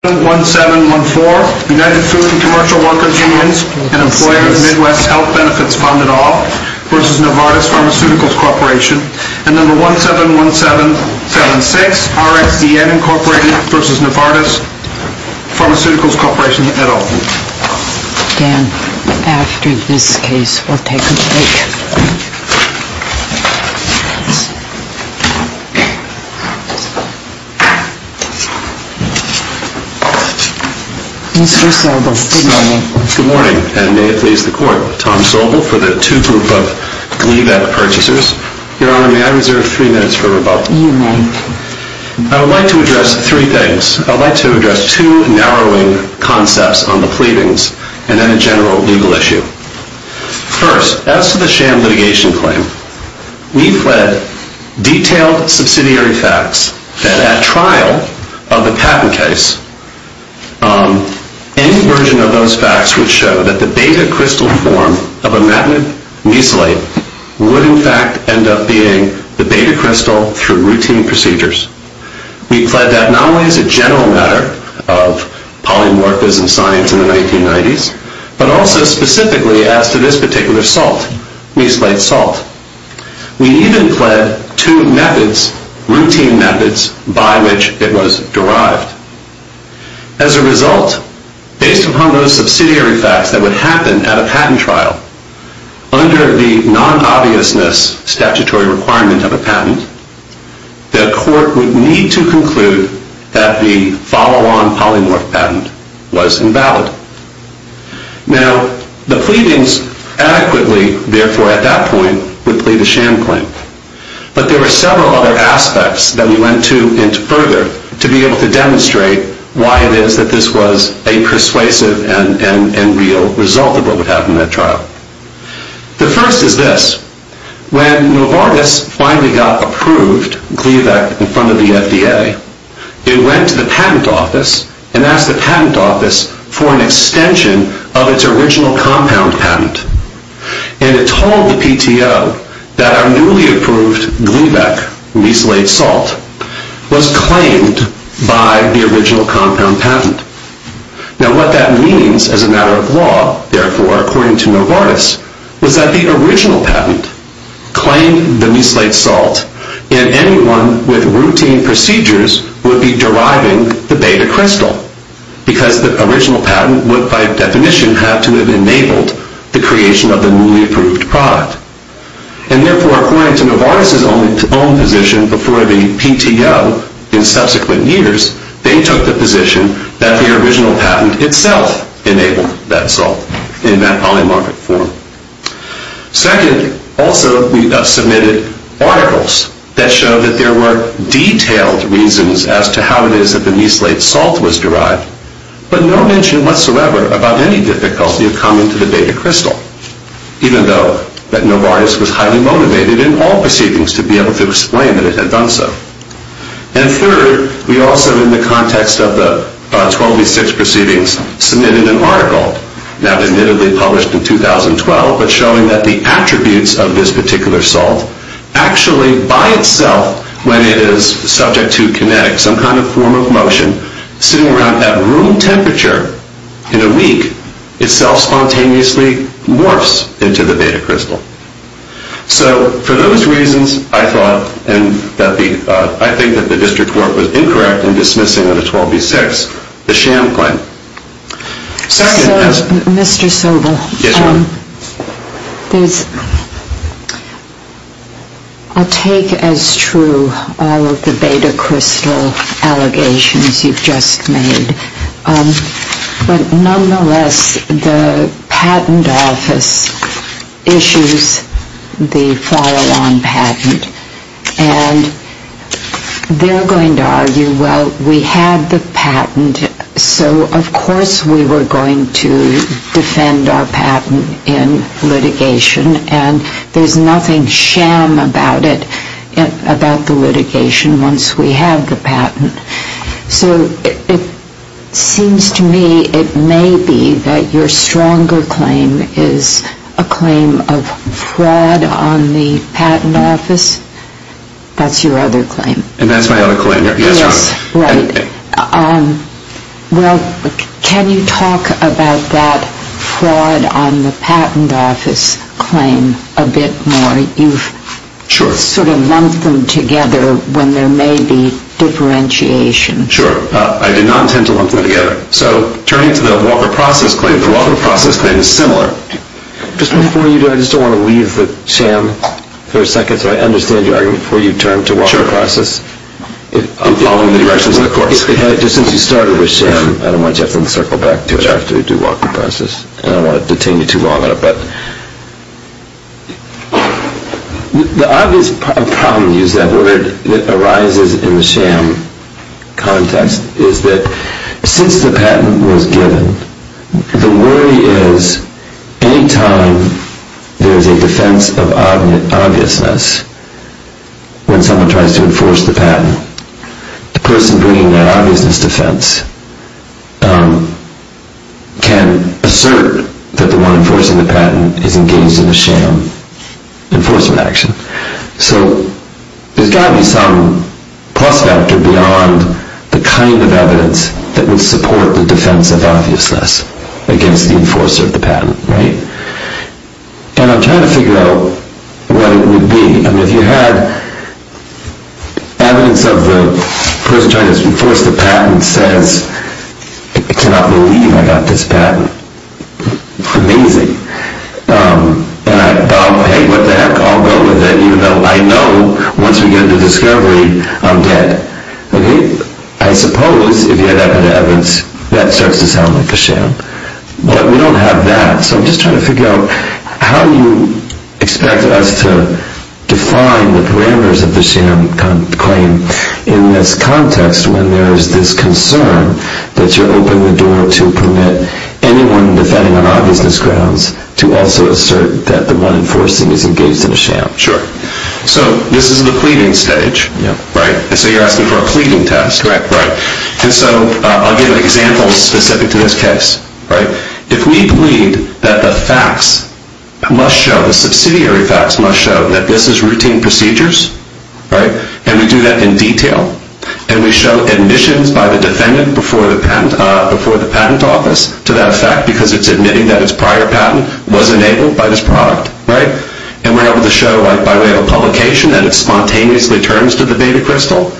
1-7-1-7-1-4 United Food & Commercial Workers Unions and Employers Midwest Health Benefits Fund et al. v. Novartis Pharmaceuticals Corporation and No. 1-7-1-7-7-6 RXEN Incorporated v. Novartis Pharmaceuticals Corporation et al. Dan, after this case, we'll take a break. Mr. Sobel, good morning. Good morning, and may it please the Court, Tom Sobel for the two group of Gleevec Purchasers. Your Honor, may I reserve three minutes for rebuttal? You may. I would like to address three things. I would like to address two narrowing concepts on the pleadings and then a general legal issue. First, as to the sham litigation claim, we've read detailed subsidiary facts that at trial of the patent case, any version of those facts would show that the beta crystal form of imatinib mesylate would in fact end up being the beta crystal through routine procedures. We plead that not only as a general matter of polymorphism science in the 1990s, but also specifically as to this particular salt, mesylate salt. We even plead two methods, routine methods, by which it was derived. As a result, based upon those subsidiary facts that would happen at a patent trial, under the non-obviousness statutory requirement of a patent, the Court would need to conclude that the follow-on polymorph patent was invalid. Now, the pleadings adequately, therefore, at that point, would plead a sham claim. But there were several other aspects that we went to further to be able to demonstrate why it is that this was a persuasive and real result of what would happen at trial. The first is this. When Novartis finally got approved, Gleevec, in front of the FDA, it went to the patent office and asked the patent office for an extension of its original compound patent. And it told the PTO that our newly approved Gleevec mesylate salt was claimed by the original compound patent. Now, what that means as a matter of law, therefore, according to Novartis, was that the original patent claimed the mesylate salt and anyone with routine procedures would be deriving the beta crystal, because the original patent would, by definition, have to have enabled the creation of the newly approved product. And therefore, according to Novartis' own position before the PTO in subsequent years, they took the position that the original patent itself enabled that salt in that polymorphic form. Second, also, we submitted articles that showed that there were detailed reasons as to how it is that the mesylate salt was derived, but no mention whatsoever about any difficulty of coming to the beta crystal, even though that Novartis was highly motivated in all proceedings to be able to explain that it had done so. And third, we also, in the context of the 12v6 proceedings, submitted an article, not admittedly published in 2012, but showing that the attributes of this particular salt actually, by itself, when it is subject to kinetics, some kind of form of motion, sitting around at room temperature in a week, itself spontaneously morphs into the beta crystal. So for those reasons, I thought, and I think that the district court was incorrect in dismissing under 12v6 the sham claim. So, Mr. Sobel, I'll take as true all of the beta crystal allegations you've just made, but nonetheless, the patent office issues the follow-on patent, and they're going to argue, well, we had the patent, so of course we were going to defend our patent in litigation, and there's nothing sham about it, about the litigation, once we have the patent. So it seems to me it may be that your stronger claim is a claim of fraud on the patent office. That's your other claim. And that's my other claim. Yes, right. Well, can you talk about that fraud on the patent office claim a bit more? You've sort of lumped them together when there may be differentiation. Sure. I did not intend to lump them together. So turning to the Walker process claim, the Walker process claim is similar. Just before you do, I just don't want to leave the sham for a second, so I understand your argument, before you turn to Walker process. I'm following the directions of the court. Just since you started with sham, I don't want you to have to encircle back to it after you do Walker process. I don't want to detain you too long on it. The obvious problem, to use that word, that arises in the sham context is that since the patent was given, the worry is any time there is a defense of obviousness, when someone tries to enforce the patent, the person bringing that obviousness defense can assert that the one enforcing the patent is engaged in a sham enforcement action. So there's got to be some prospect beyond the kind of evidence that would support the defense of obviousness against the enforcer of the patent. And I'm trying to figure out what it would be. I mean, if you had evidence of the person trying to enforce the patent says, I cannot believe I got this patent. Amazing. And I thought, hey, what the heck, I'll go with it, even though I know once we get into discovery, I'm dead. Okay? I suppose, if you had that kind of evidence, that starts to sound like a sham. But we don't have that. So I'm just trying to figure out how you expect us to define the parameters of the sham claim in this context when there is this concern that you're opening the door to permit anyone defending on obviousness grounds to also assert that the one enforcing is engaged in a sham. Sure. So this is the pleading stage, right? And so you're asking for a pleading test. Correct. And so I'll give an example specific to this case. If we plead that the facts must show, the subsidiary facts must show that this is routine procedures, and we do that in detail, and we show admissions by the defendant before the patent office to that fact because it's admitting that its prior patent was enabled by this product, and we're able to show by way of a publication that it spontaneously turns to the beta crystal,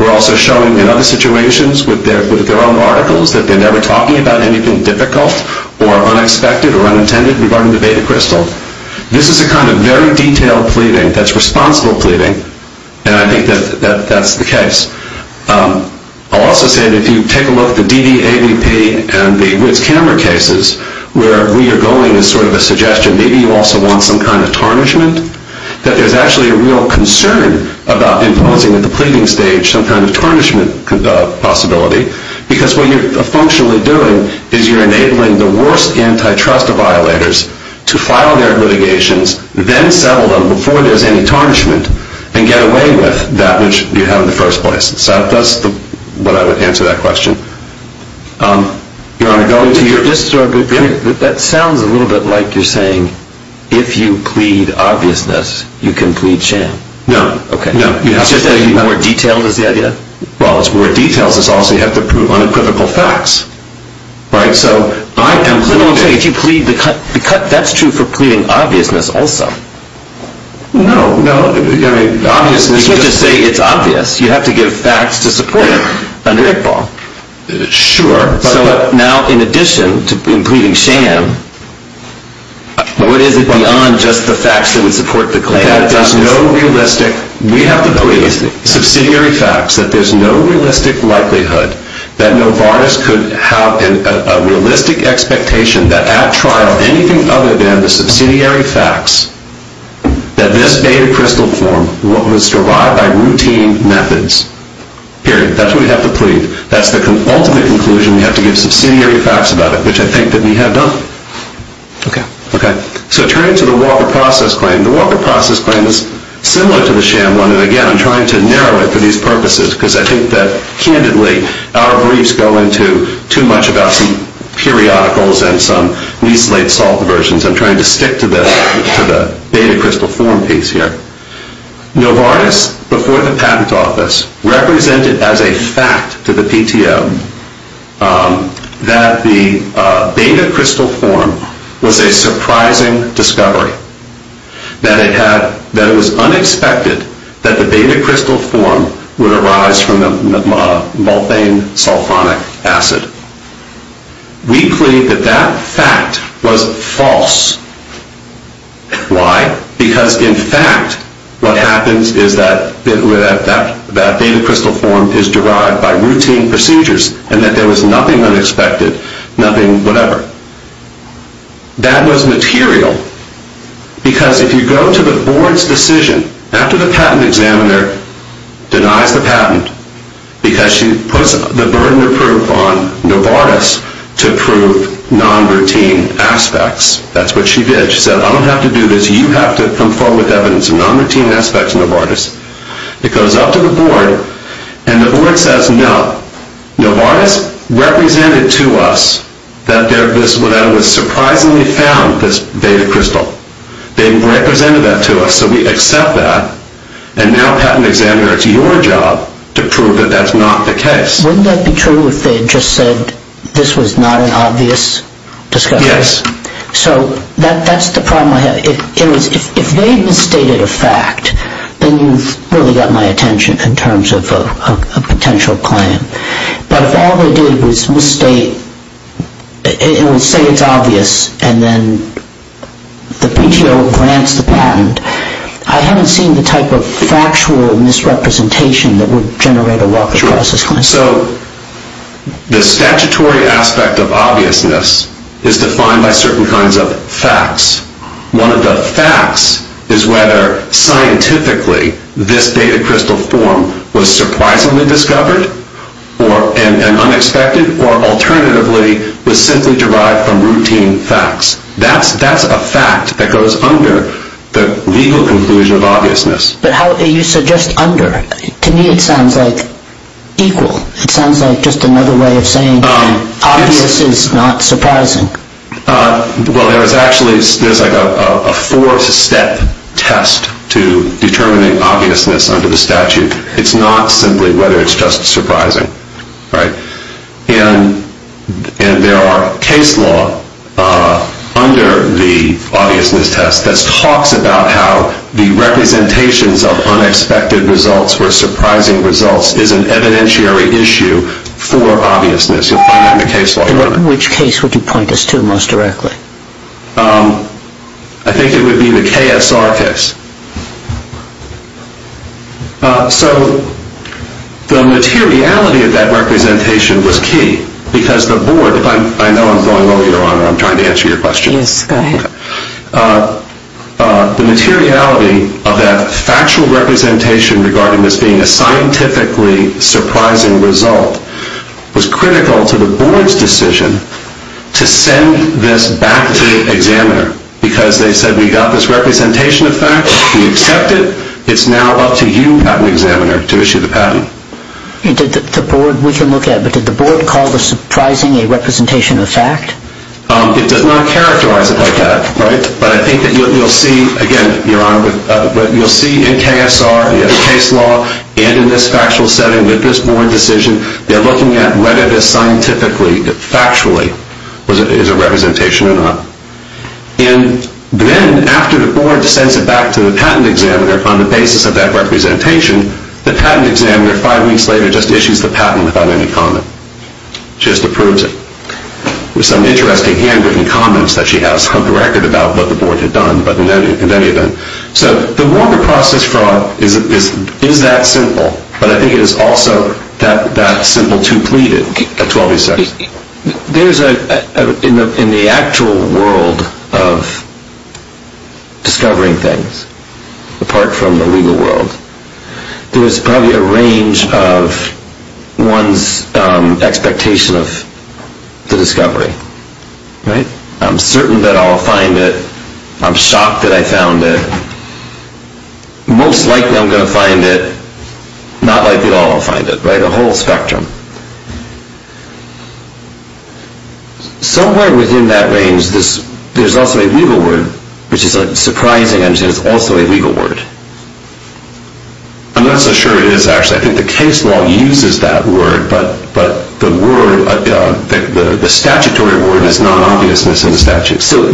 we're also showing in other situations with their own articles that they're never talking about anything difficult or unexpected or unintended regarding the beta crystal. This is a kind of very detailed pleading that's responsible pleading, and I think that that's the case. I'll also say that if you take a look at the DDAVP and the Woods Camera cases, where we are going as sort of a suggestion, maybe you also want some kind of tarnishment, that there's actually a real concern about imposing at the pleading stage some kind of tarnishment possibility because what you're functionally doing is you're enabling the worst antitrust violators to file their litigations, then settle them before there's any tarnishment, and get away with that which you have in the first place. So that's what I would answer that question. That sounds a little bit like you're saying, if you plead obviousness, you can plead sham. No. Okay. More detailed is the idea? Well, it's more detailed. It's also you have to prove unequivocal facts. Right? So I am claiming... If you plead the cut, that's true for pleading obviousness also. No, no. I mean, obviousness... Sure. So now in addition to pleading sham, what is it beyond just the facts that would support the claim? That there's no realistic, we have to plead, subsidiary facts, that there's no realistic likelihood that Novartis could have a realistic expectation that at trial, anything other than the subsidiary facts, that this beta crystal form would survive by routine methods. Period. That's what we have to plead. That's the ultimate conclusion. We have to give subsidiary facts about it, which I think that we have done. Okay. Okay. So turn to the Walker Process Claim. The Walker Process Claim is similar to the sham one, and again, I'm trying to narrow it for these purposes because I think that, candidly, our briefs go into too much about some periodicals and some mislead salt versions. I'm trying to stick to the beta crystal form piece here. Novartis, before the patent office, represented as a fact to the PTO that the beta crystal form was a surprising discovery, that it was unexpected that the beta crystal form would arise from the molten sulfonic acid. We plead that that fact was false. Why? Because, in fact, what happens is that that beta crystal form is derived by routine procedures and that there was nothing unexpected, nothing whatever. That was material because if you go to the board's decision, after the patent examiner denies the patent because she puts the burden of proof on Novartis to prove non-routine aspects, that's what she did, she said, I don't have to do this, you have to come forward with evidence of non-routine aspects of Novartis. It goes up to the board, and the board says no. Novartis represented to us that it was surprisingly found, this beta crystal. They represented that to us, so we accept that, and now patent examiner, it's your job to prove that that's not the case. Wouldn't that be true if they had just said this was not an obvious discovery? Yes. So that's the problem I have. If they had misstated a fact, then you've really got my attention in terms of a potential claim. But if all they did was misstate, say it's obvious, and then the PTO grants the patent, I haven't seen the type of factual misrepresentation that would generate a lawful process claim. So the statutory aspect of obviousness is defined by certain kinds of facts. One of the facts is whether scientifically this beta crystal form was surprisingly discovered, and unexpected, or alternatively was simply derived from routine facts. That's a fact that goes under the legal conclusion of obviousness. But how do you suggest under? To me it sounds like equal. It sounds like just another way of saying obvious is not surprising. Well, there's actually a four-step test to determining obviousness under the statute. It's not simply whether it's just surprising. And there are case law under the obviousness test that talks about how the representations of unexpected results or surprising results is an evidentiary issue for obviousness. Which case would you point us to most directly? I think it would be the KSR case. So the materiality of that representation was key. Because the board, I know I'm going low, Your Honor, I'm trying to answer your question. Yes, go ahead. The materiality of that factual representation regarding this being a scientifically surprising result was critical to the board's decision to send this back to the examiner. Because they said we got this representation of fact. We accept it. It's now up to you, patent examiner, to issue the patent. We can look at it. But did the board call the surprising a representation of fact? It does not characterize it like that. But I think that you'll see, again, Your Honor, you'll see in KSR, the case law, and in this factual setting with this board decision, they're looking at whether this scientifically, factually, is a representation or not. And then after the board sends it back to the patent examiner on the basis of that representation, the patent examiner five weeks later just issues the patent without any comment. Just approves it. With some interesting handwritten comments that she has on the record about what the board had done. But in any event. So the Warner process fraud is that simple. But I think it is also that simple to plead at 12A6. There's a, in the actual world of discovering things, apart from the legal world, there's probably a range of one's expectation of the discovery, right? I'm certain that I'll find it. I'm shocked that I found it. Most likely I'm going to find it. Not likely at all I'll find it, right? A whole spectrum. Somewhere within that range, there's also a legal word, which is surprising, I understand, it's also a legal word. I'm not so sure it is, actually. I think the case law uses that word. But the word, the statutory word is non-obviousness in the statute. So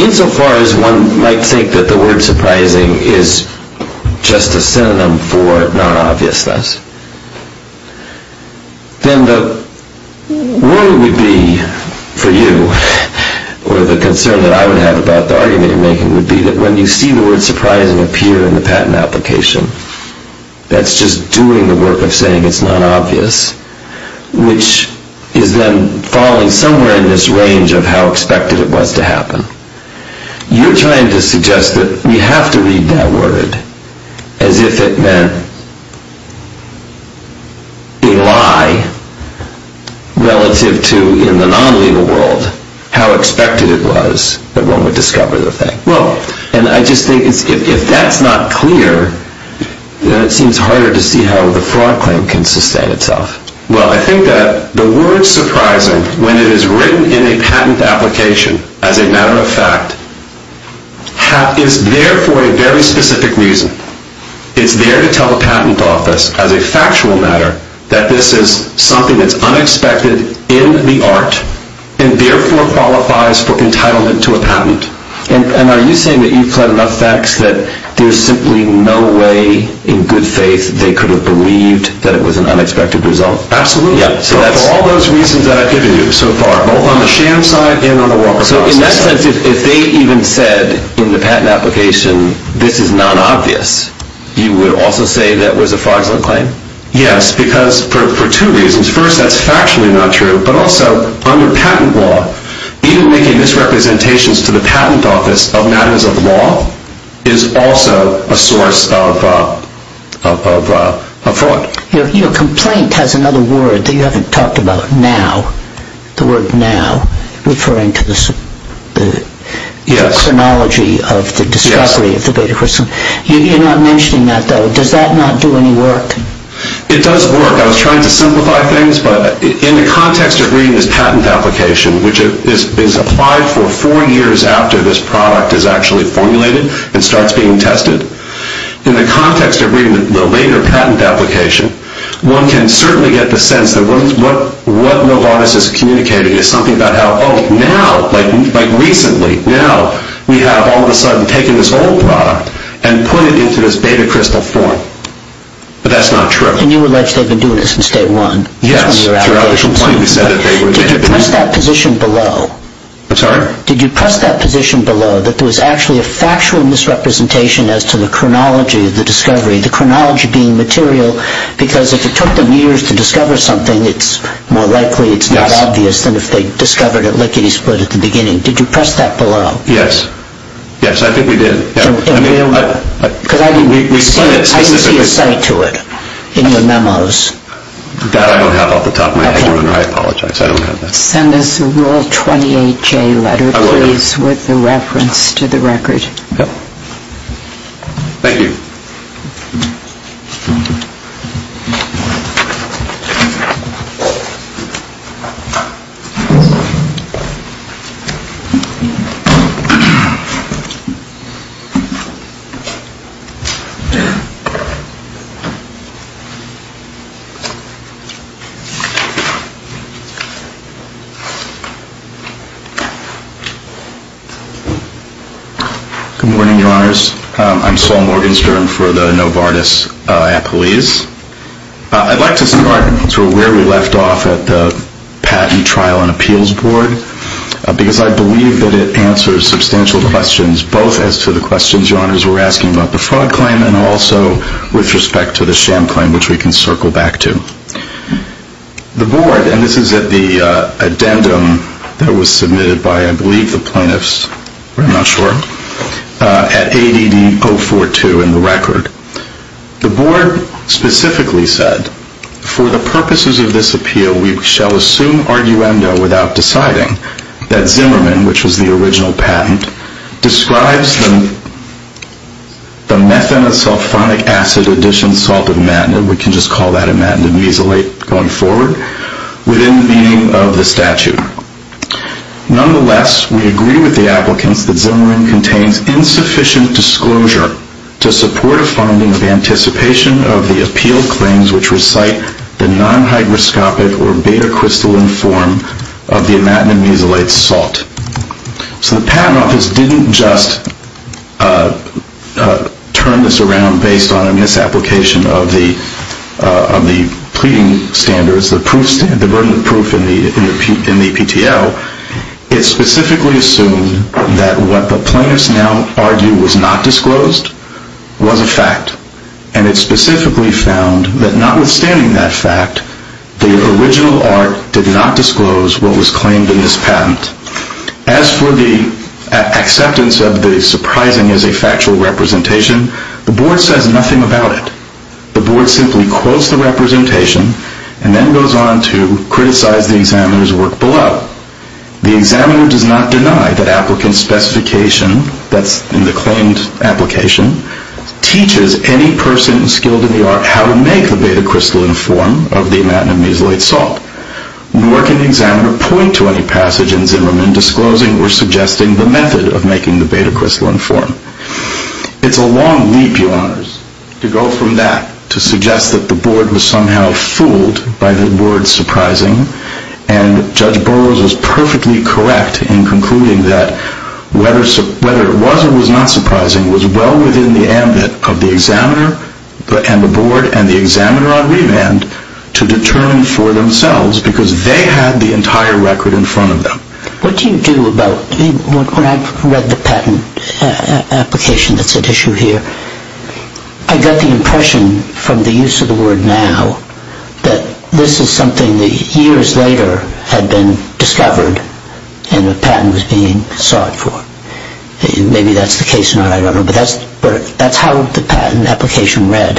insofar as one might think that the word surprising is just a synonym for non-obviousness, then the worry would be for you, or the concern that I would have about the argument you're making, would be that when you see the word surprising appear in the patent application, that's just doing the work of saying it's non-obvious, which is then falling somewhere in this range of how expected it was to happen. You're trying to suggest that we have to read that word as if it meant a lie relative to, in the non-legal world, how expected it was that one would discover the thing. Well, and I just think if that's not clear, then it seems harder to see how the fraud claim can sustain itself. Well, I think that the word surprising, when it is written in a patent application as a matter of fact, is there for a very specific reason. It's there to tell a patent office, as a factual matter, that this is something that's unexpected in the art, and therefore qualifies for entitlement to a patent. And are you saying that you've had enough facts that there's simply no way, in good faith, they could have believed that it was an unexpected result? Absolutely. For all those reasons that I've given you so far, both on the sham side and on the Walker-Fox side. So in that sense, if they even said in the patent application, this is non-obvious, you would also say that was a fraudulent claim? Yes, because for two reasons. First, that's factually not true, but also, under patent law, even making misrepresentations to the patent office of matters of law is also a source of fraud. Your complaint has another word that you haven't talked about, now. The word now, referring to the chronology of the discovery of the beta chrysalis. You're not mentioning that, though. Does that not do any work? It does work. I was trying to simplify things, but in the context of reading this patent application, which is applied for four years after this product is actually formulated and starts being tested, in the context of reading the later patent application, one can certainly get the sense that what Novartis is communicating is something about how, oh, now, like recently, now we have all of a sudden taken this old product and put it into this beta crystal form. But that's not true. And you allege they've been doing this since day one? Yes. Throughout this complaint, we said that they had been... Did you press that position below? I'm sorry? Did you press that position below, that there was actually a factual misrepresentation as to the chronology of the discovery, the chronology being material, because if it took them years to discover something, it's more likely it's not obvious than if they discovered it lickety-split at the beginning. Did you press that below? Yes. Yes, I think we did. Because I didn't see a site to it in your memos. That I don't have off the top of my head. I apologize. I don't have that. Send us a Rule 28J letter, please, with a reference to the record. Thank you. Good morning, Your Honors. I'm Saul Morgenstern for the Novartis Appellees. I'd like to start where we left off at the Patent, Trial, and Appeals Board, because I believe that it answers substantial questions, both as to the questions Your Honors were asking about the fraud claim and also with respect to the sham claim, which we can circle back to. The Board, and this is at the addendum that was submitted by, I believe, the plaintiffs, but I'm not sure, at ADD 042 in the record. The Board specifically said, For the purposes of this appeal, we shall assume arguendo without deciding that Zimmerman, which was the original patent, describes the methanosulfonic acid addition salt imatinib, we can just call that imatinib mesilate going forward, within the meaning of the statute. Nonetheless, we agree with the applicants that Zimmerman contains insufficient disclosure to support a funding of anticipation of the appeal claims which recite the non-hygroscopic or beta-crystalline form of the imatinib mesilate salt. So the Patent Office didn't just turn this around based on a misapplication of the pleading standards, the burden of proof in the PTL. It specifically assumed that what the plaintiffs now argue was not disclosed was a fact, and it specifically found that notwithstanding that fact, the original art did not disclose what was claimed in this patent. As for the acceptance of the surprising as a factual representation, the Board says nothing about it. The Board simply quotes the representation and then goes on to criticize the examiner's work below. The examiner does not deny that applicant specification that's in the claimed application teaches any person skilled in the art how to make the beta-crystalline form of the imatinib mesilate salt, nor can the examiner point to any passage in Zimmerman disclosing or suggesting the method of making the beta-crystalline form. It's a long leap, Your Honors, to go from that, to suggest that the Board was somehow fooled by the word surprising, and Judge Burroughs was perfectly correct in concluding that whether it was or was not surprising was well within the ambit of the examiner and the Board and the examiner on remand to determine for themselves because they had the entire record in front of them. What do you do about, when I read the patent application that's at issue here, I got the impression from the use of the word now that this is something that years later had been discovered and a patent was being sought for. Maybe that's the case or not, I don't know, but that's how the patent application read.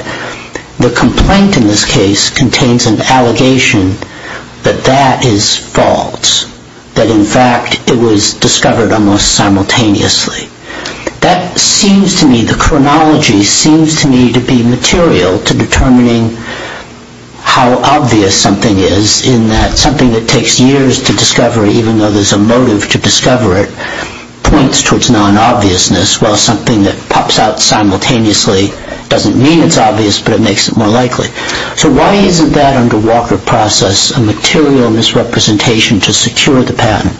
The complaint in this case contains an allegation that that is false, that in fact it was discovered almost simultaneously. That seems to me, the chronology seems to me to be material to determining how obvious something is in that something that takes years to discover, even though there's a motive to discover it, points towards non-obviousness while something that pops out simultaneously doesn't mean it's obvious but it makes it more likely. So why isn't that under Walker process a material misrepresentation to secure the patent?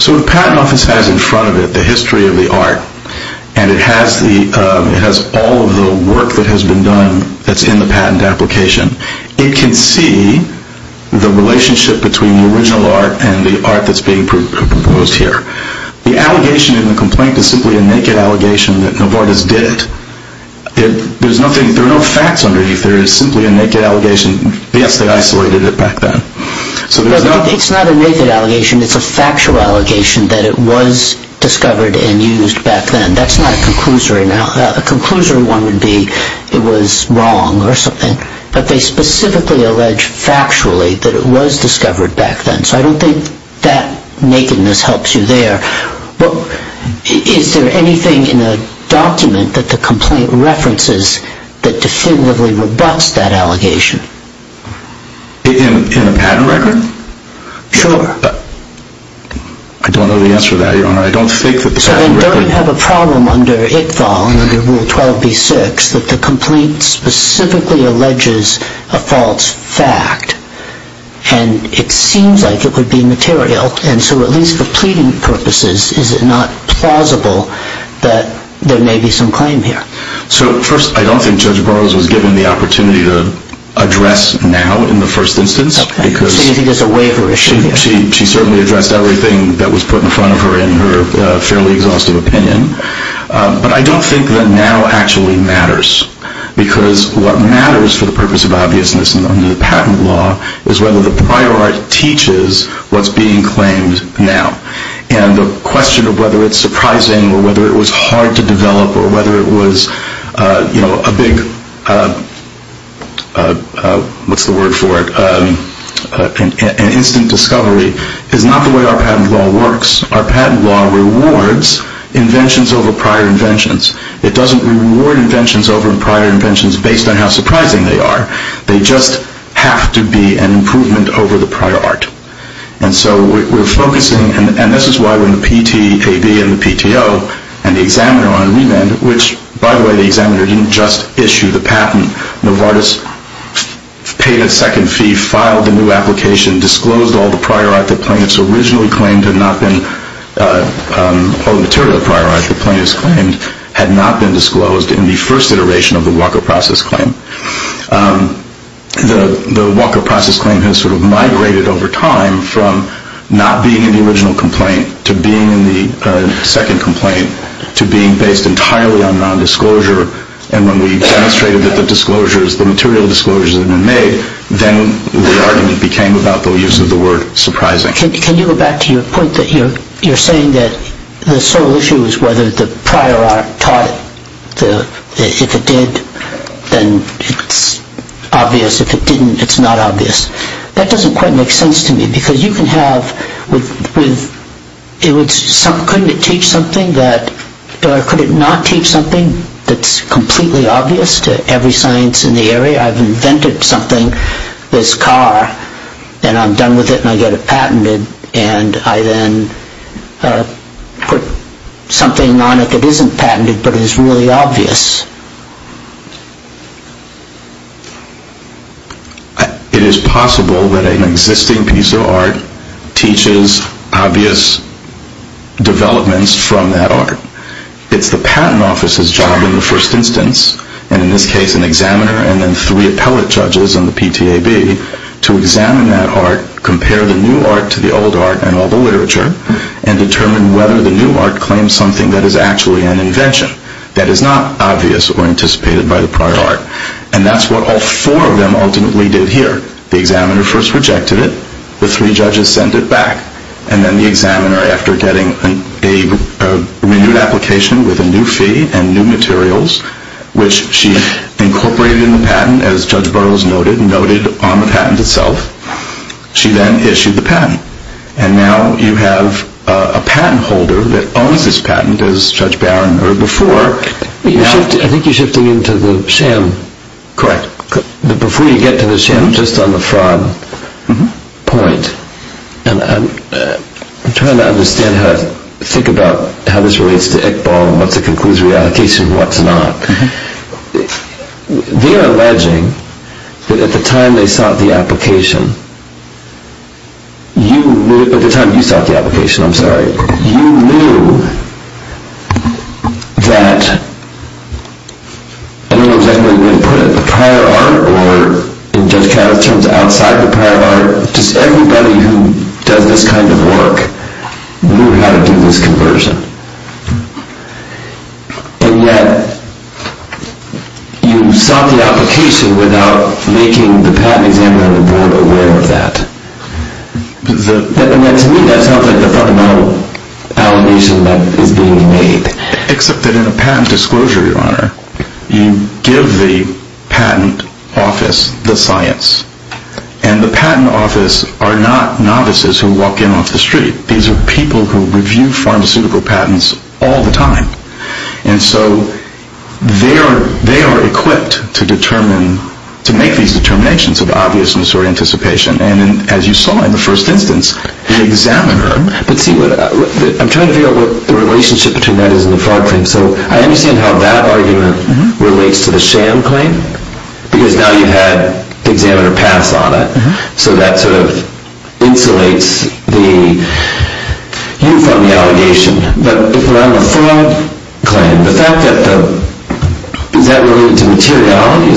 So the Patent Office has in front of it the history of the art and it has all of the work that has been done that's in the patent application. It can see the relationship between the original art and the art that's being proposed here. The allegation in the complaint is simply a naked allegation that Novartis did it. There are no facts underneath there. It's simply a naked allegation. Yes, they isolated it back then. It's not a naked allegation. It's a factual allegation that it was discovered and used back then. That's not a conclusory. A conclusory one would be it was wrong or something, but they specifically allege factually that it was discovered back then. So I don't think that nakedness helps you there. Is there anything in the document that the complaint references that definitively rebuts that allegation? In a patent record? Sure. I don't know the answer to that, Your Honor. I don't think that the patent record... So they don't have a problem under ITFAL and under Rule 12b-6 that the complaint specifically alleges a false fact, and it seems like it would be material, and so at least for pleading purposes, is it not plausible that there may be some claim here? First, I don't think Judge Burroughs was given the opportunity to address now in the first instance. So you think there's a waiver issue here? She certainly addressed everything that was put in front of her in her fairly exhaustive opinion, but I don't think that now actually matters, because what matters for the purpose of obviousness under the patent law is whether the prior art teaches what's being claimed now, and the question of whether it's surprising or whether it was hard to develop or whether it was a big, what's the word for it, an instant discovery is not the way our patent law works. Our patent law rewards inventions over prior inventions. It doesn't reward inventions over prior inventions based on how surprising they are. They just have to be an improvement over the prior art. And so we're focusing, and this is why when the PTAB and the PTO and the examiner on remand, which, by the way, the examiner didn't just issue the patent. Novartis paid a second fee, filed the new application, disclosed all the material prior art that plaintiffs claimed had not been disclosed in the first iteration of the Walker Process Claim. The Walker Process Claim has sort of migrated over time from not being in the original complaint to being in the second complaint to being based entirely on nondisclosure, and when we demonstrated that the material disclosures had been made, then the argument became about the use of the word surprising. Can you go back to your point that you're saying that the sole issue is whether the prior art taught it. If it did, then it's obvious. If it didn't, it's not obvious. That doesn't quite make sense to me because you can have, couldn't it teach something that, or could it not teach something that's completely obvious to every science in the area? Say I've invented something, this car, and I'm done with it and I get it patented, and I then put something on it that isn't patented but is really obvious. It is possible that an existing piece of art teaches obvious developments from that art. It's the patent officer's job in the first instance, and in this case an examiner and then three appellate judges on the PTAB, to examine that art, compare the new art to the old art and all the literature, and determine whether the new art claims something that is actually an invention that is not obvious or anticipated by the prior art. And that's what all four of them ultimately did here. The examiner first rejected it, the three judges sent it back, and then the examiner, after getting a renewed application with a new fee and new materials, which she incorporated in the patent, as Judge Burroughs noted, noted on the patent itself, she then issued the patent. And now you have a patent holder that owns this patent, as Judge Barron heard before. I think you're shifting into the sham. Correct. Before you get to the sham, just on the fraud point, and I'm trying to understand how to think about how this relates to Iqbal and what's a conclusive reallocation and what's not. They are alleging that at the time they sought the application, at the time you sought the application, I'm sorry, you knew that, I don't know exactly what you want to put it, but the prior art or, in Judge Travis's terms, outside the prior art, just everybody who does this kind of work knew how to do this conversion. And yet you sought the application without making the patent examiner on the board aware of that. And yet to me that sounds like the fundamental allegation that is being made. Except that in a patent disclosure, Your Honor, you give the patent office the science. And the patent office are not novices who walk in off the street. These are people who review pharmaceutical patents all the time. And so they are equipped to make these determinations of obviousness or anticipation. And as you saw in the first instance, the examiner... I'm trying to figure out what the relationship between that is and the fraud claim. So I understand how that argument relates to the sham claim, because now you had the examiner pass on it. So that sort of insulates you from the allegation. But if we're on the fraud claim, is that related to materiality?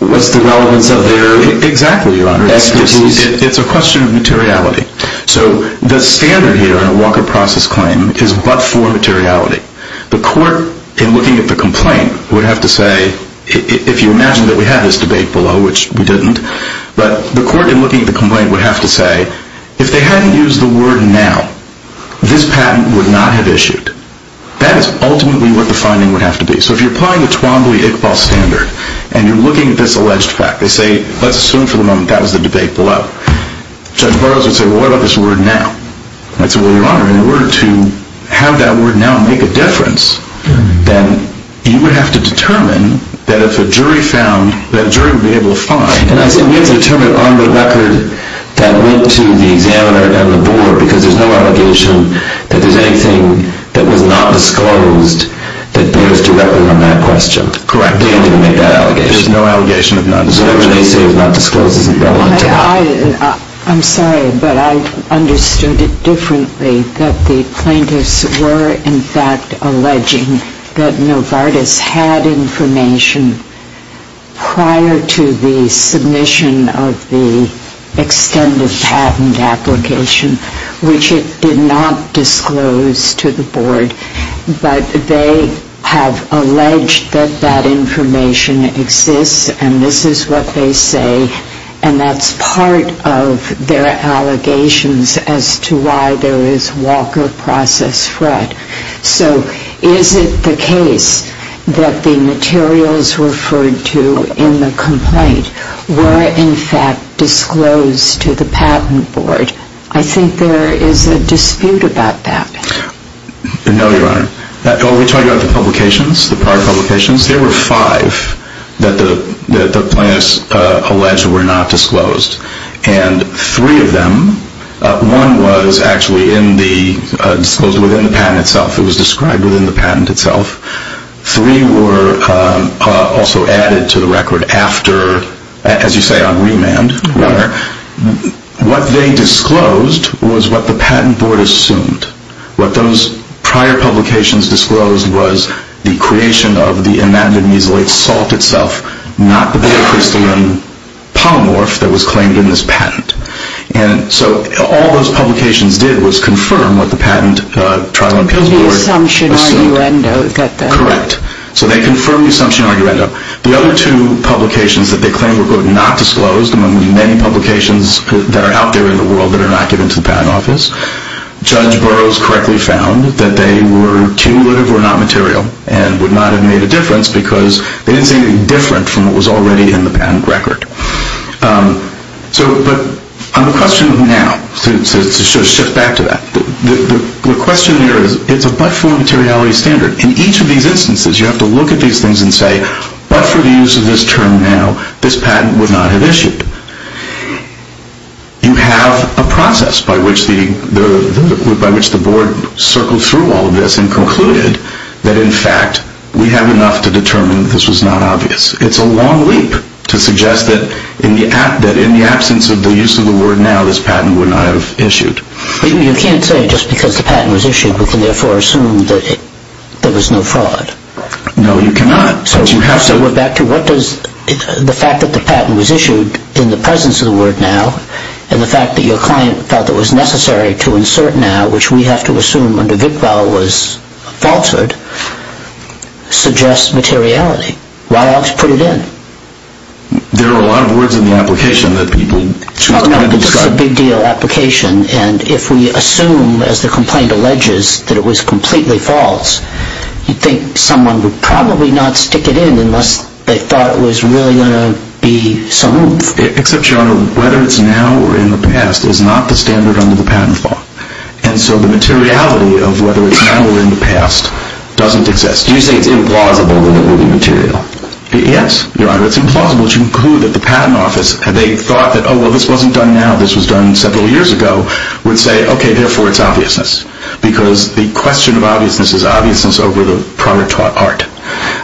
What's the relevance of their expertise? It's a question of materiality. So the standard here in a Walker process claim is but for materiality. The court, in looking at the complaint, would have to say, if you imagine that we had this debate below, which we didn't, but the court in looking at the complaint would have to say, if they hadn't used the word now, this patent would not have issued. That is ultimately what the finding would have to be. So if you're applying the Twombly-Iqbal standard and you're looking at this alleged fact, they say, let's assume for the moment that was the debate below. Judge Burroughs would say, well, what about this word now? I'd say, well, Your Honor, in order to have that word now make a difference, then you would have to determine that if a jury found, that jury would be able to find. And that's what we have to determine on the record that went to the examiner and the board, because there's no allegation that there's anything that was not disclosed that bears directly on that question. Correct. They didn't make that allegation. There's no allegation of non-disclosure. Whatever they say is not disclosed isn't relevant to that. I'm sorry, but I understood it differently, that the plaintiffs were, in fact, alleging that Novartis had information prior to the submission of the extended patent application, which it did not disclose to the board. But they have alleged that that information exists, and this is what they say, and that's part of their allegations as to why there is Walker process threat. So is it the case that the materials referred to in the complaint were, in fact, disclosed to the patent board? I think there is a dispute about that. No, Your Honor. When we talk about the publications, the prior publications, there were five that the plaintiffs alleged were not disclosed, and three of them, one was actually disclosed within the patent itself. It was described within the patent itself. Three were also added to the record after, as you say, on remand. What they disclosed was what the patent board assumed. What those prior publications disclosed was the creation of the enamined mesolate salt itself, not the beta-crystalline polymorph that was claimed in this patent. And so all those publications did was confirm what the patent trial and appeal board assumed. And the assumption, arguendo, got that. Correct. So they confirmed the assumption, arguendo. The other two publications that they claimed were not disclosed, among the many publications that are out there in the world that are not given to the patent office, Judge Burroughs correctly found that they were cumulative or not material and would not have made a difference because they didn't say anything different from what was already in the patent record. But on the question of now, to shift back to that, the question there is it's a but-for materiality standard. In each of these instances, you have to look at these things and say, but for the use of this term now, this patent would not have issued. You have a process by which the board circled through all of this and concluded that, in fact, we have enough to determine that this was not obvious. It's a long leap to suggest that in the absence of the use of the word now, this patent would not have issued. But you can't say just because the patent was issued, we can therefore assume that there was no fraud. No, you cannot. So we're back to what does the fact that the patent was issued in the presence of the word now and the fact that your client felt it was necessary to insert now, which we have to assume under Vickvall was falsehood, suggests materiality. Why else put it in? There are a lot of words in the application that people choose to add and describe. It's a big deal application. And if we assume, as the complaint alleges, that it was completely false, you'd think someone would probably not stick it in unless they thought it was really going to be some move. Except, Your Honor, whether it's now or in the past is not the standard under the Patent Law. And so the materiality of whether it's now or in the past doesn't exist. Do you say it's implausible that it would be material? Yes, Your Honor. It's implausible to conclude that the Patent Office, they thought that, oh, well, this wasn't done now, this was done several years ago, would say, okay, therefore it's obviousness. Because the question of obviousness is obviousness over the prior art.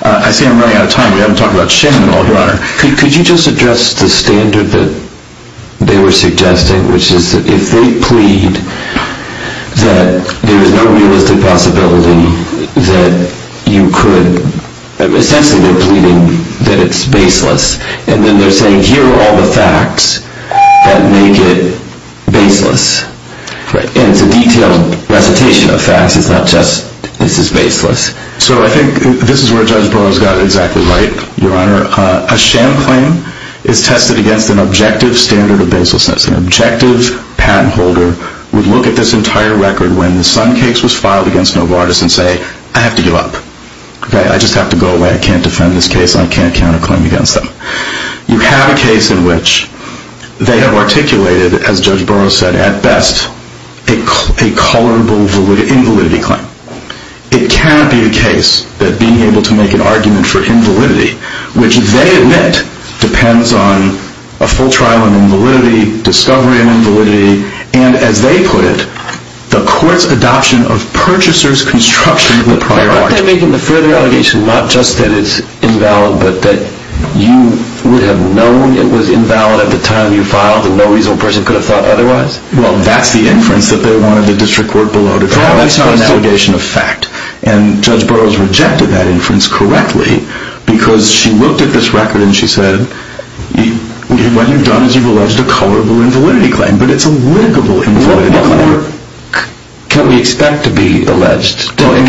I see I'm running out of time. We haven't talked about Shannon at all, Your Honor. Could you just address the standard that they were suggesting, which is that if they plead that there is no realistic possibility that you could, essentially they're pleading that it's baseless, and then they're saying here are all the facts that make it baseless. And it's a detailed recitation of facts. It's not just this is baseless. So I think this is where Judge Burroughs got exactly right, Your Honor. A sham claim is tested against an objective standard of baselessness. An objective patent holder would look at this entire record when the Sun case was filed against Novartis and say, I have to give up. I just have to go away. I can't defend this case. I can't count a claim against them. You have a case in which they have articulated, as Judge Burroughs said at best, a colorable invalidity claim. It cannot be the case that being able to make an argument for invalidity, which they admit depends on a full trial in invalidity, discovery in invalidity, and as they put it, the court's adoption of purchaser's construction of the prior art. Aren't they making the further allegation not just that it's invalid but that you would have known it was invalid at the time you filed and no reasonable person could have thought otherwise? Well, that's the inference that they wanted the district court below to draw. That's not an allegation of fact. And Judge Burroughs rejected that inference correctly because she looked at this record and she said, what you've done is you've alleged a colorable invalidity claim, but it's a litigable invalidity claim. What more can we expect to be alleged? In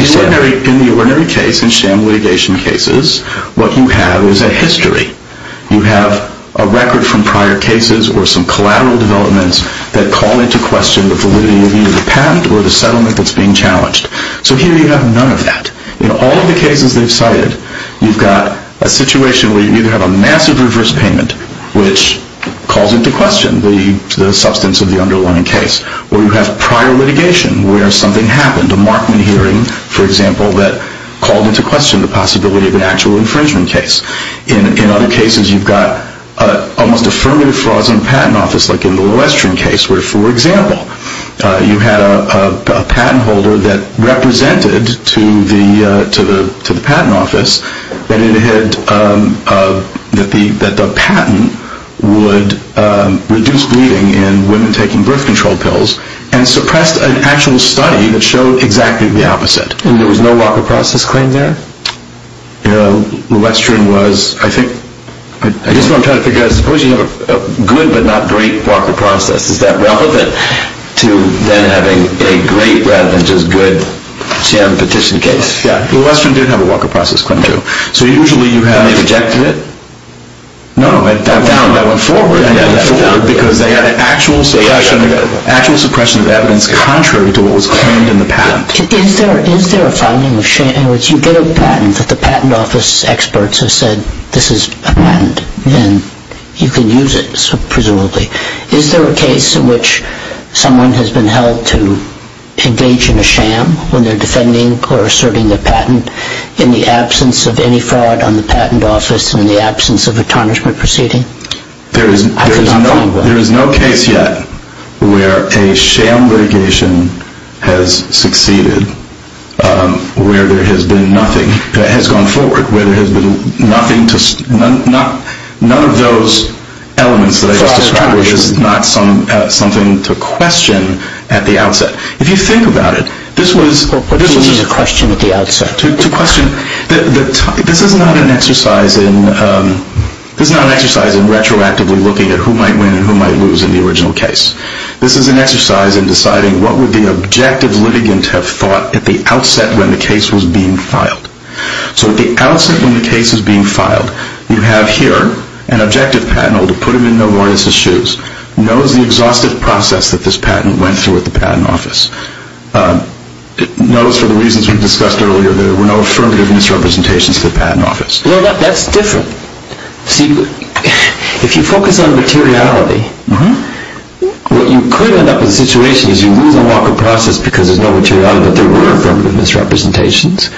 the ordinary case, in sham litigation cases, what you have is a history. You have a record from prior cases or some collateral developments that call into question the validity of either the patent or the settlement that's being challenged. So here you have none of that. In all of the cases they've cited, you've got a situation where you either have a massive reverse payment, which calls into question the substance of the underlying case, or you have prior litigation where something happened, a Markman hearing, for example, that called into question the possibility of an actual infringement case. In other cases, you've got almost affirmative frauds in the patent office, like in the Lillestren case where, for example, you had a patent holder that represented to the patent office that the patent would reduce bleeding in women taking birth control pills and suppressed an actual study that showed exactly the opposite. And there was no walker process claim there? Lillestren was, I think... I guess what I'm trying to figure out is, suppose you have a good but not great walker process. Is that relevant to then having a great rather than just good sham petition case? Yeah, Lillestren did have a walker process claim, too. So usually you have... And they rejected it? No, I found that went forward. Because they had an actual suppression of evidence contrary to what was claimed in the patent. Is there a finding in which you get a patent that the patent office experts have said, this is a patent and you can use it, presumably. Is there a case in which someone has been held to engage in a sham when they're defending or asserting their patent in the absence of any fraud on the patent office and in the absence of a tarnishment proceeding? There is no case yet where a sham litigation has succeeded, where there has been nothing, has gone forward, where there has been nothing to... None of those elements that I just described is not something to question at the outset. If you think about it, this was... What do you mean a question at the outset? To question... This is not an exercise in... This is not an exercise in retroactively looking at who might win and who might lose in the original case. This is an exercise in deciding what would the objective litigant have thought at the outset when the case was being filed. So at the outset when the case was being filed, you have here an objective patent holder putting him in no more than his shoes, knows the exhaustive process that this patent went through at the patent office. Knows for the reasons we discussed earlier that there were no affirmative misrepresentations to the patent office. Well, that's different. See, if you focus on materiality, what you could end up with in a situation is you lose a lot of the process because there's no materiality, but there were affirmative misrepresentations.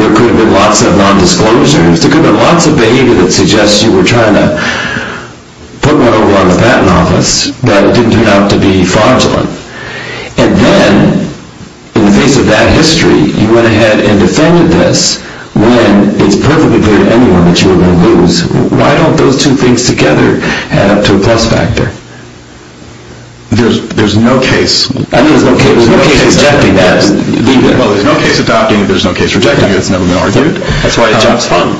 There could have been lots of non-disclosures. There could have been lots of behavior that suggests you were trying to put one over on the patent office, but it didn't turn out to be fraudulent. And then, in the face of that history, you went ahead and defended this when it's perfectly clear to anyone that you were going to lose. Why don't those two things together add up to a plus factor? There's no case... There's no case rejecting that. Well, there's no case adopting it. There's no case rejecting it. It's never been argued. That's why a job's fun.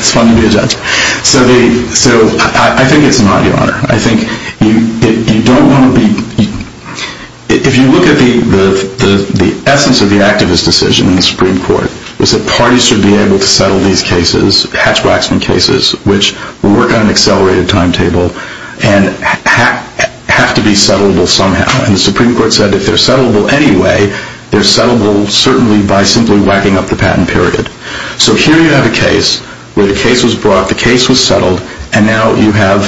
It's fun to be a judge. So I think it's an audio honor. I think you don't want to be... If you look at the essence of the activist decision in the Supreme Court, it was that parties should be able to settle these cases, Hatch-Waxman cases, which work on an accelerated timetable and have to be settlable somehow. And the Supreme Court said if they're settlable anyway, they're settlable certainly by simply whacking up the patent period. So here you have a case where the case was brought, the case was settled, and now you have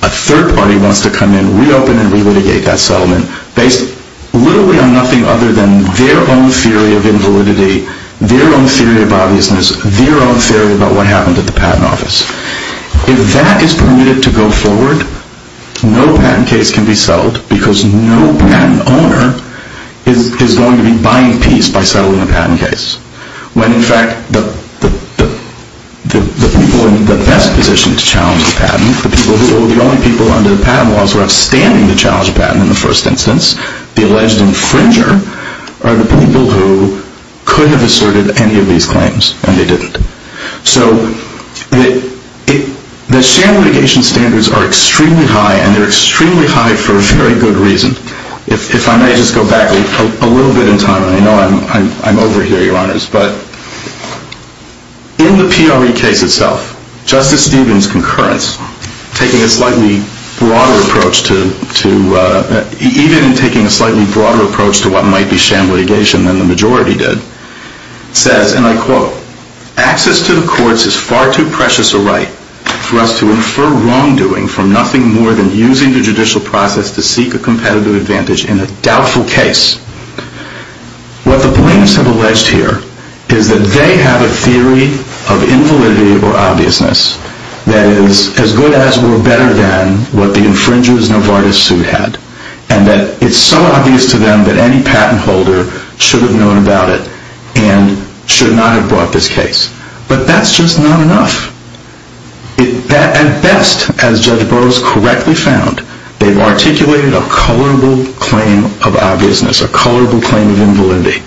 a third party wants to come in, reopen and re-litigate that settlement based literally on nothing other than their own theory of invalidity their own theory of obviousness, their own theory about what happened at the patent office. If that is permitted to go forward, no patent case can be settled because no patent owner is going to be buying peace by settling a patent case. When in fact, the people in the best position to challenge the patent, the people who are the only people under the patent laws who are outstanding to challenge a patent in the first instance, the alleged infringer, are the people who could have asserted any of these claims, and they didn't. So the sham litigation standards are extremely high and they're extremely high for a very good reason. If I may just go back a little bit in time, and I know I'm over here, Your Honors, but in the PRE case itself, Justice Stevens' concurrence taking a slightly broader approach to, even in taking a slightly broader approach to what might be sham litigation than the majority did, says, and I quote, access to the courts is far too precious a right for us to infer wrongdoing from nothing more than using the judicial process to seek a competitive advantage in a doubtful case. What the plaintiffs have alleged here is that they have a theory of invalidity or obviousness that is as good as or better than what the infringer's Novartis suit had, and that it's so obvious to them that any patent holder should have known about it and should not have brought this case. But that's just not enough. At best, as Judge Burroughs correctly found, they've articulated a colorable claim of obviousness, a colorable claim of invalidity.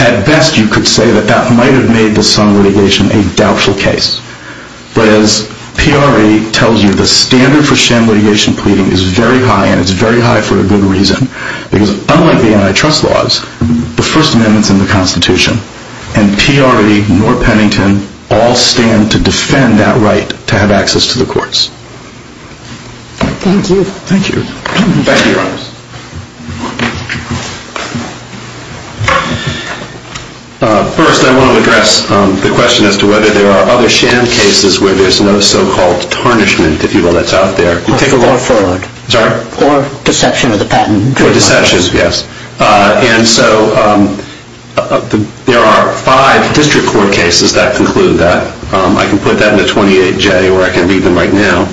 At best, you could say that that might have made the sham litigation a doubtful case. But as PRE tells you, the standard for sham litigation pleading is very high and it's very high for a good reason, because unlike the antitrust laws, the First Amendment's in the Constitution and PRE nor Pennington all stand to defend that right to have access to the courts. Thank you. Thank you. Thank you, Your Honors. First, I want to address the question as to whether there are other sham cases where there's no so-called tarnishment, if you will, that's out there. You take a law forward. Sorry? Or deception of the patent. Or deception, yes. And so there are five district court cases that conclude that. I can put that in the 28J or I can read them right now.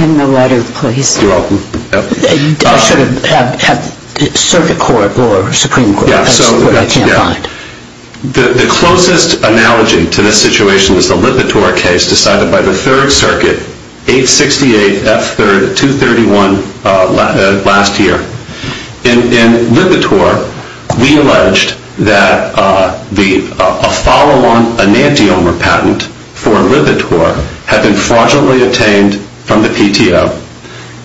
In the letter, please. You're welcome. They should have had circuit court or Supreme Court. That's what I can't find. The closest analogy to this situation is the Lipitor case decided by the Third Circuit, 868F231 last year. In Lipitor, we alleged that a follow-on enantiomer patent for Lipitor had been fraudulently obtained from the PTO,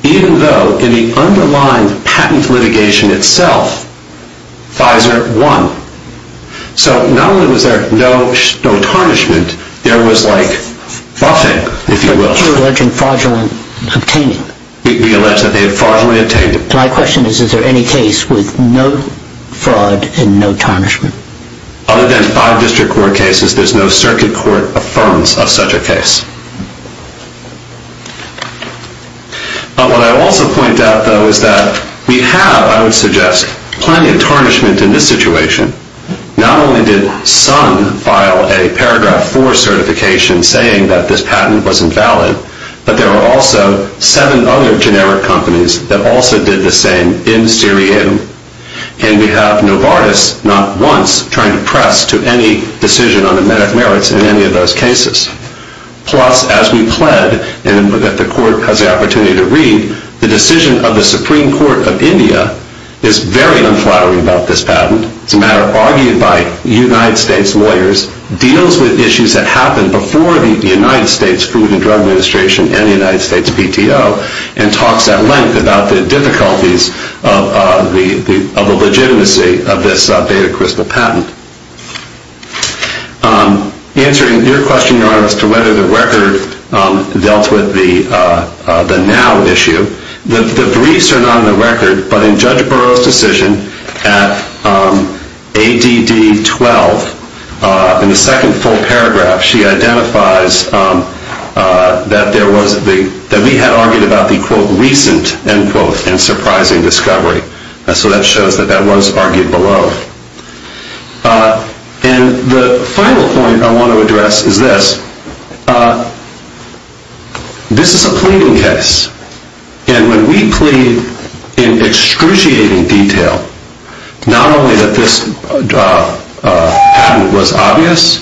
even though in the underlying patent litigation itself, Pfizer won. So not only was there no tarnishment, there was, like, buffing, if you will. But you're alleging fraudulently obtaining. We allege that they had fraudulently obtained. My question is, is there any case with no fraud and no tarnishment? Other than five district court cases, there's no circuit court affirms of such a case. What I also point out, though, is that we have, I would suggest, plenty of tarnishment in this situation. Not only did Sun file a Paragraph 4 certification saying that this patent was invalid, but there are also seven other generic companies that also did the same in Syria. And we have Novartis, not once, trying to press to any decision on the merits in any of those cases. Plus, as we pled, and that the court has the opportunity to read, the decision of the Supreme Court of India is very unflattering about this patent. It's a matter argued by United States lawyers, deals with issues that happened before the United States Food and Drug Administration and the United States PTO, and talks at length about the difficulties of the legitimacy of this data crystal patent. Answering your question, Your Honor, as to whether the record dealt with the now issue, the briefs are not on the record, but in Judge Burroughs' decision at ADD 12, in the second full paragraph, she identifies that we had argued about the quote, recent, end quote, and surprising discovery. So that shows that that was argued below. And the final point I want to address is this. This is a pleading case. And when we plead in excruciating detail, not only that this patent was obvious,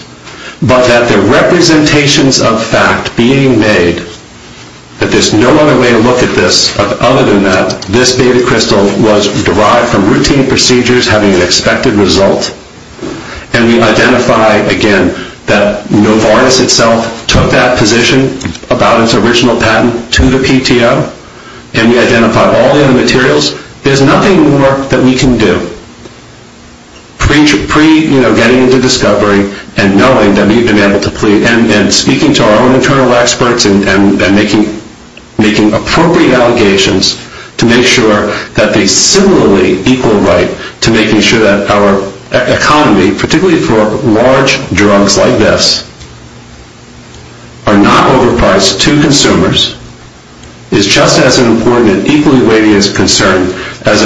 but that the representations of fact being made, that there's no other way to look at this other than that this data crystal was derived from routine procedures having an expected result, and we identify, again, that Novartis itself took that position about its original patent to the PTO, and we identify all the other materials, there's nothing more that we can do. Pre-getting into discovery and knowing that we've been able to plead, and speaking to our own internal experts and making appropriate allegations to make sure that they similarly equal right to making sure that our economy, particularly for large drugs like this, are not overpriced to consumers is just as important and equally weighty a concern as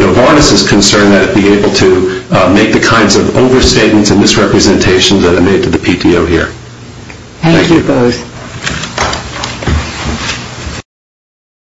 Novartis' concern that it be able to make the kinds of overstatements and misrepresentations that are made to the PTO here. Thank you.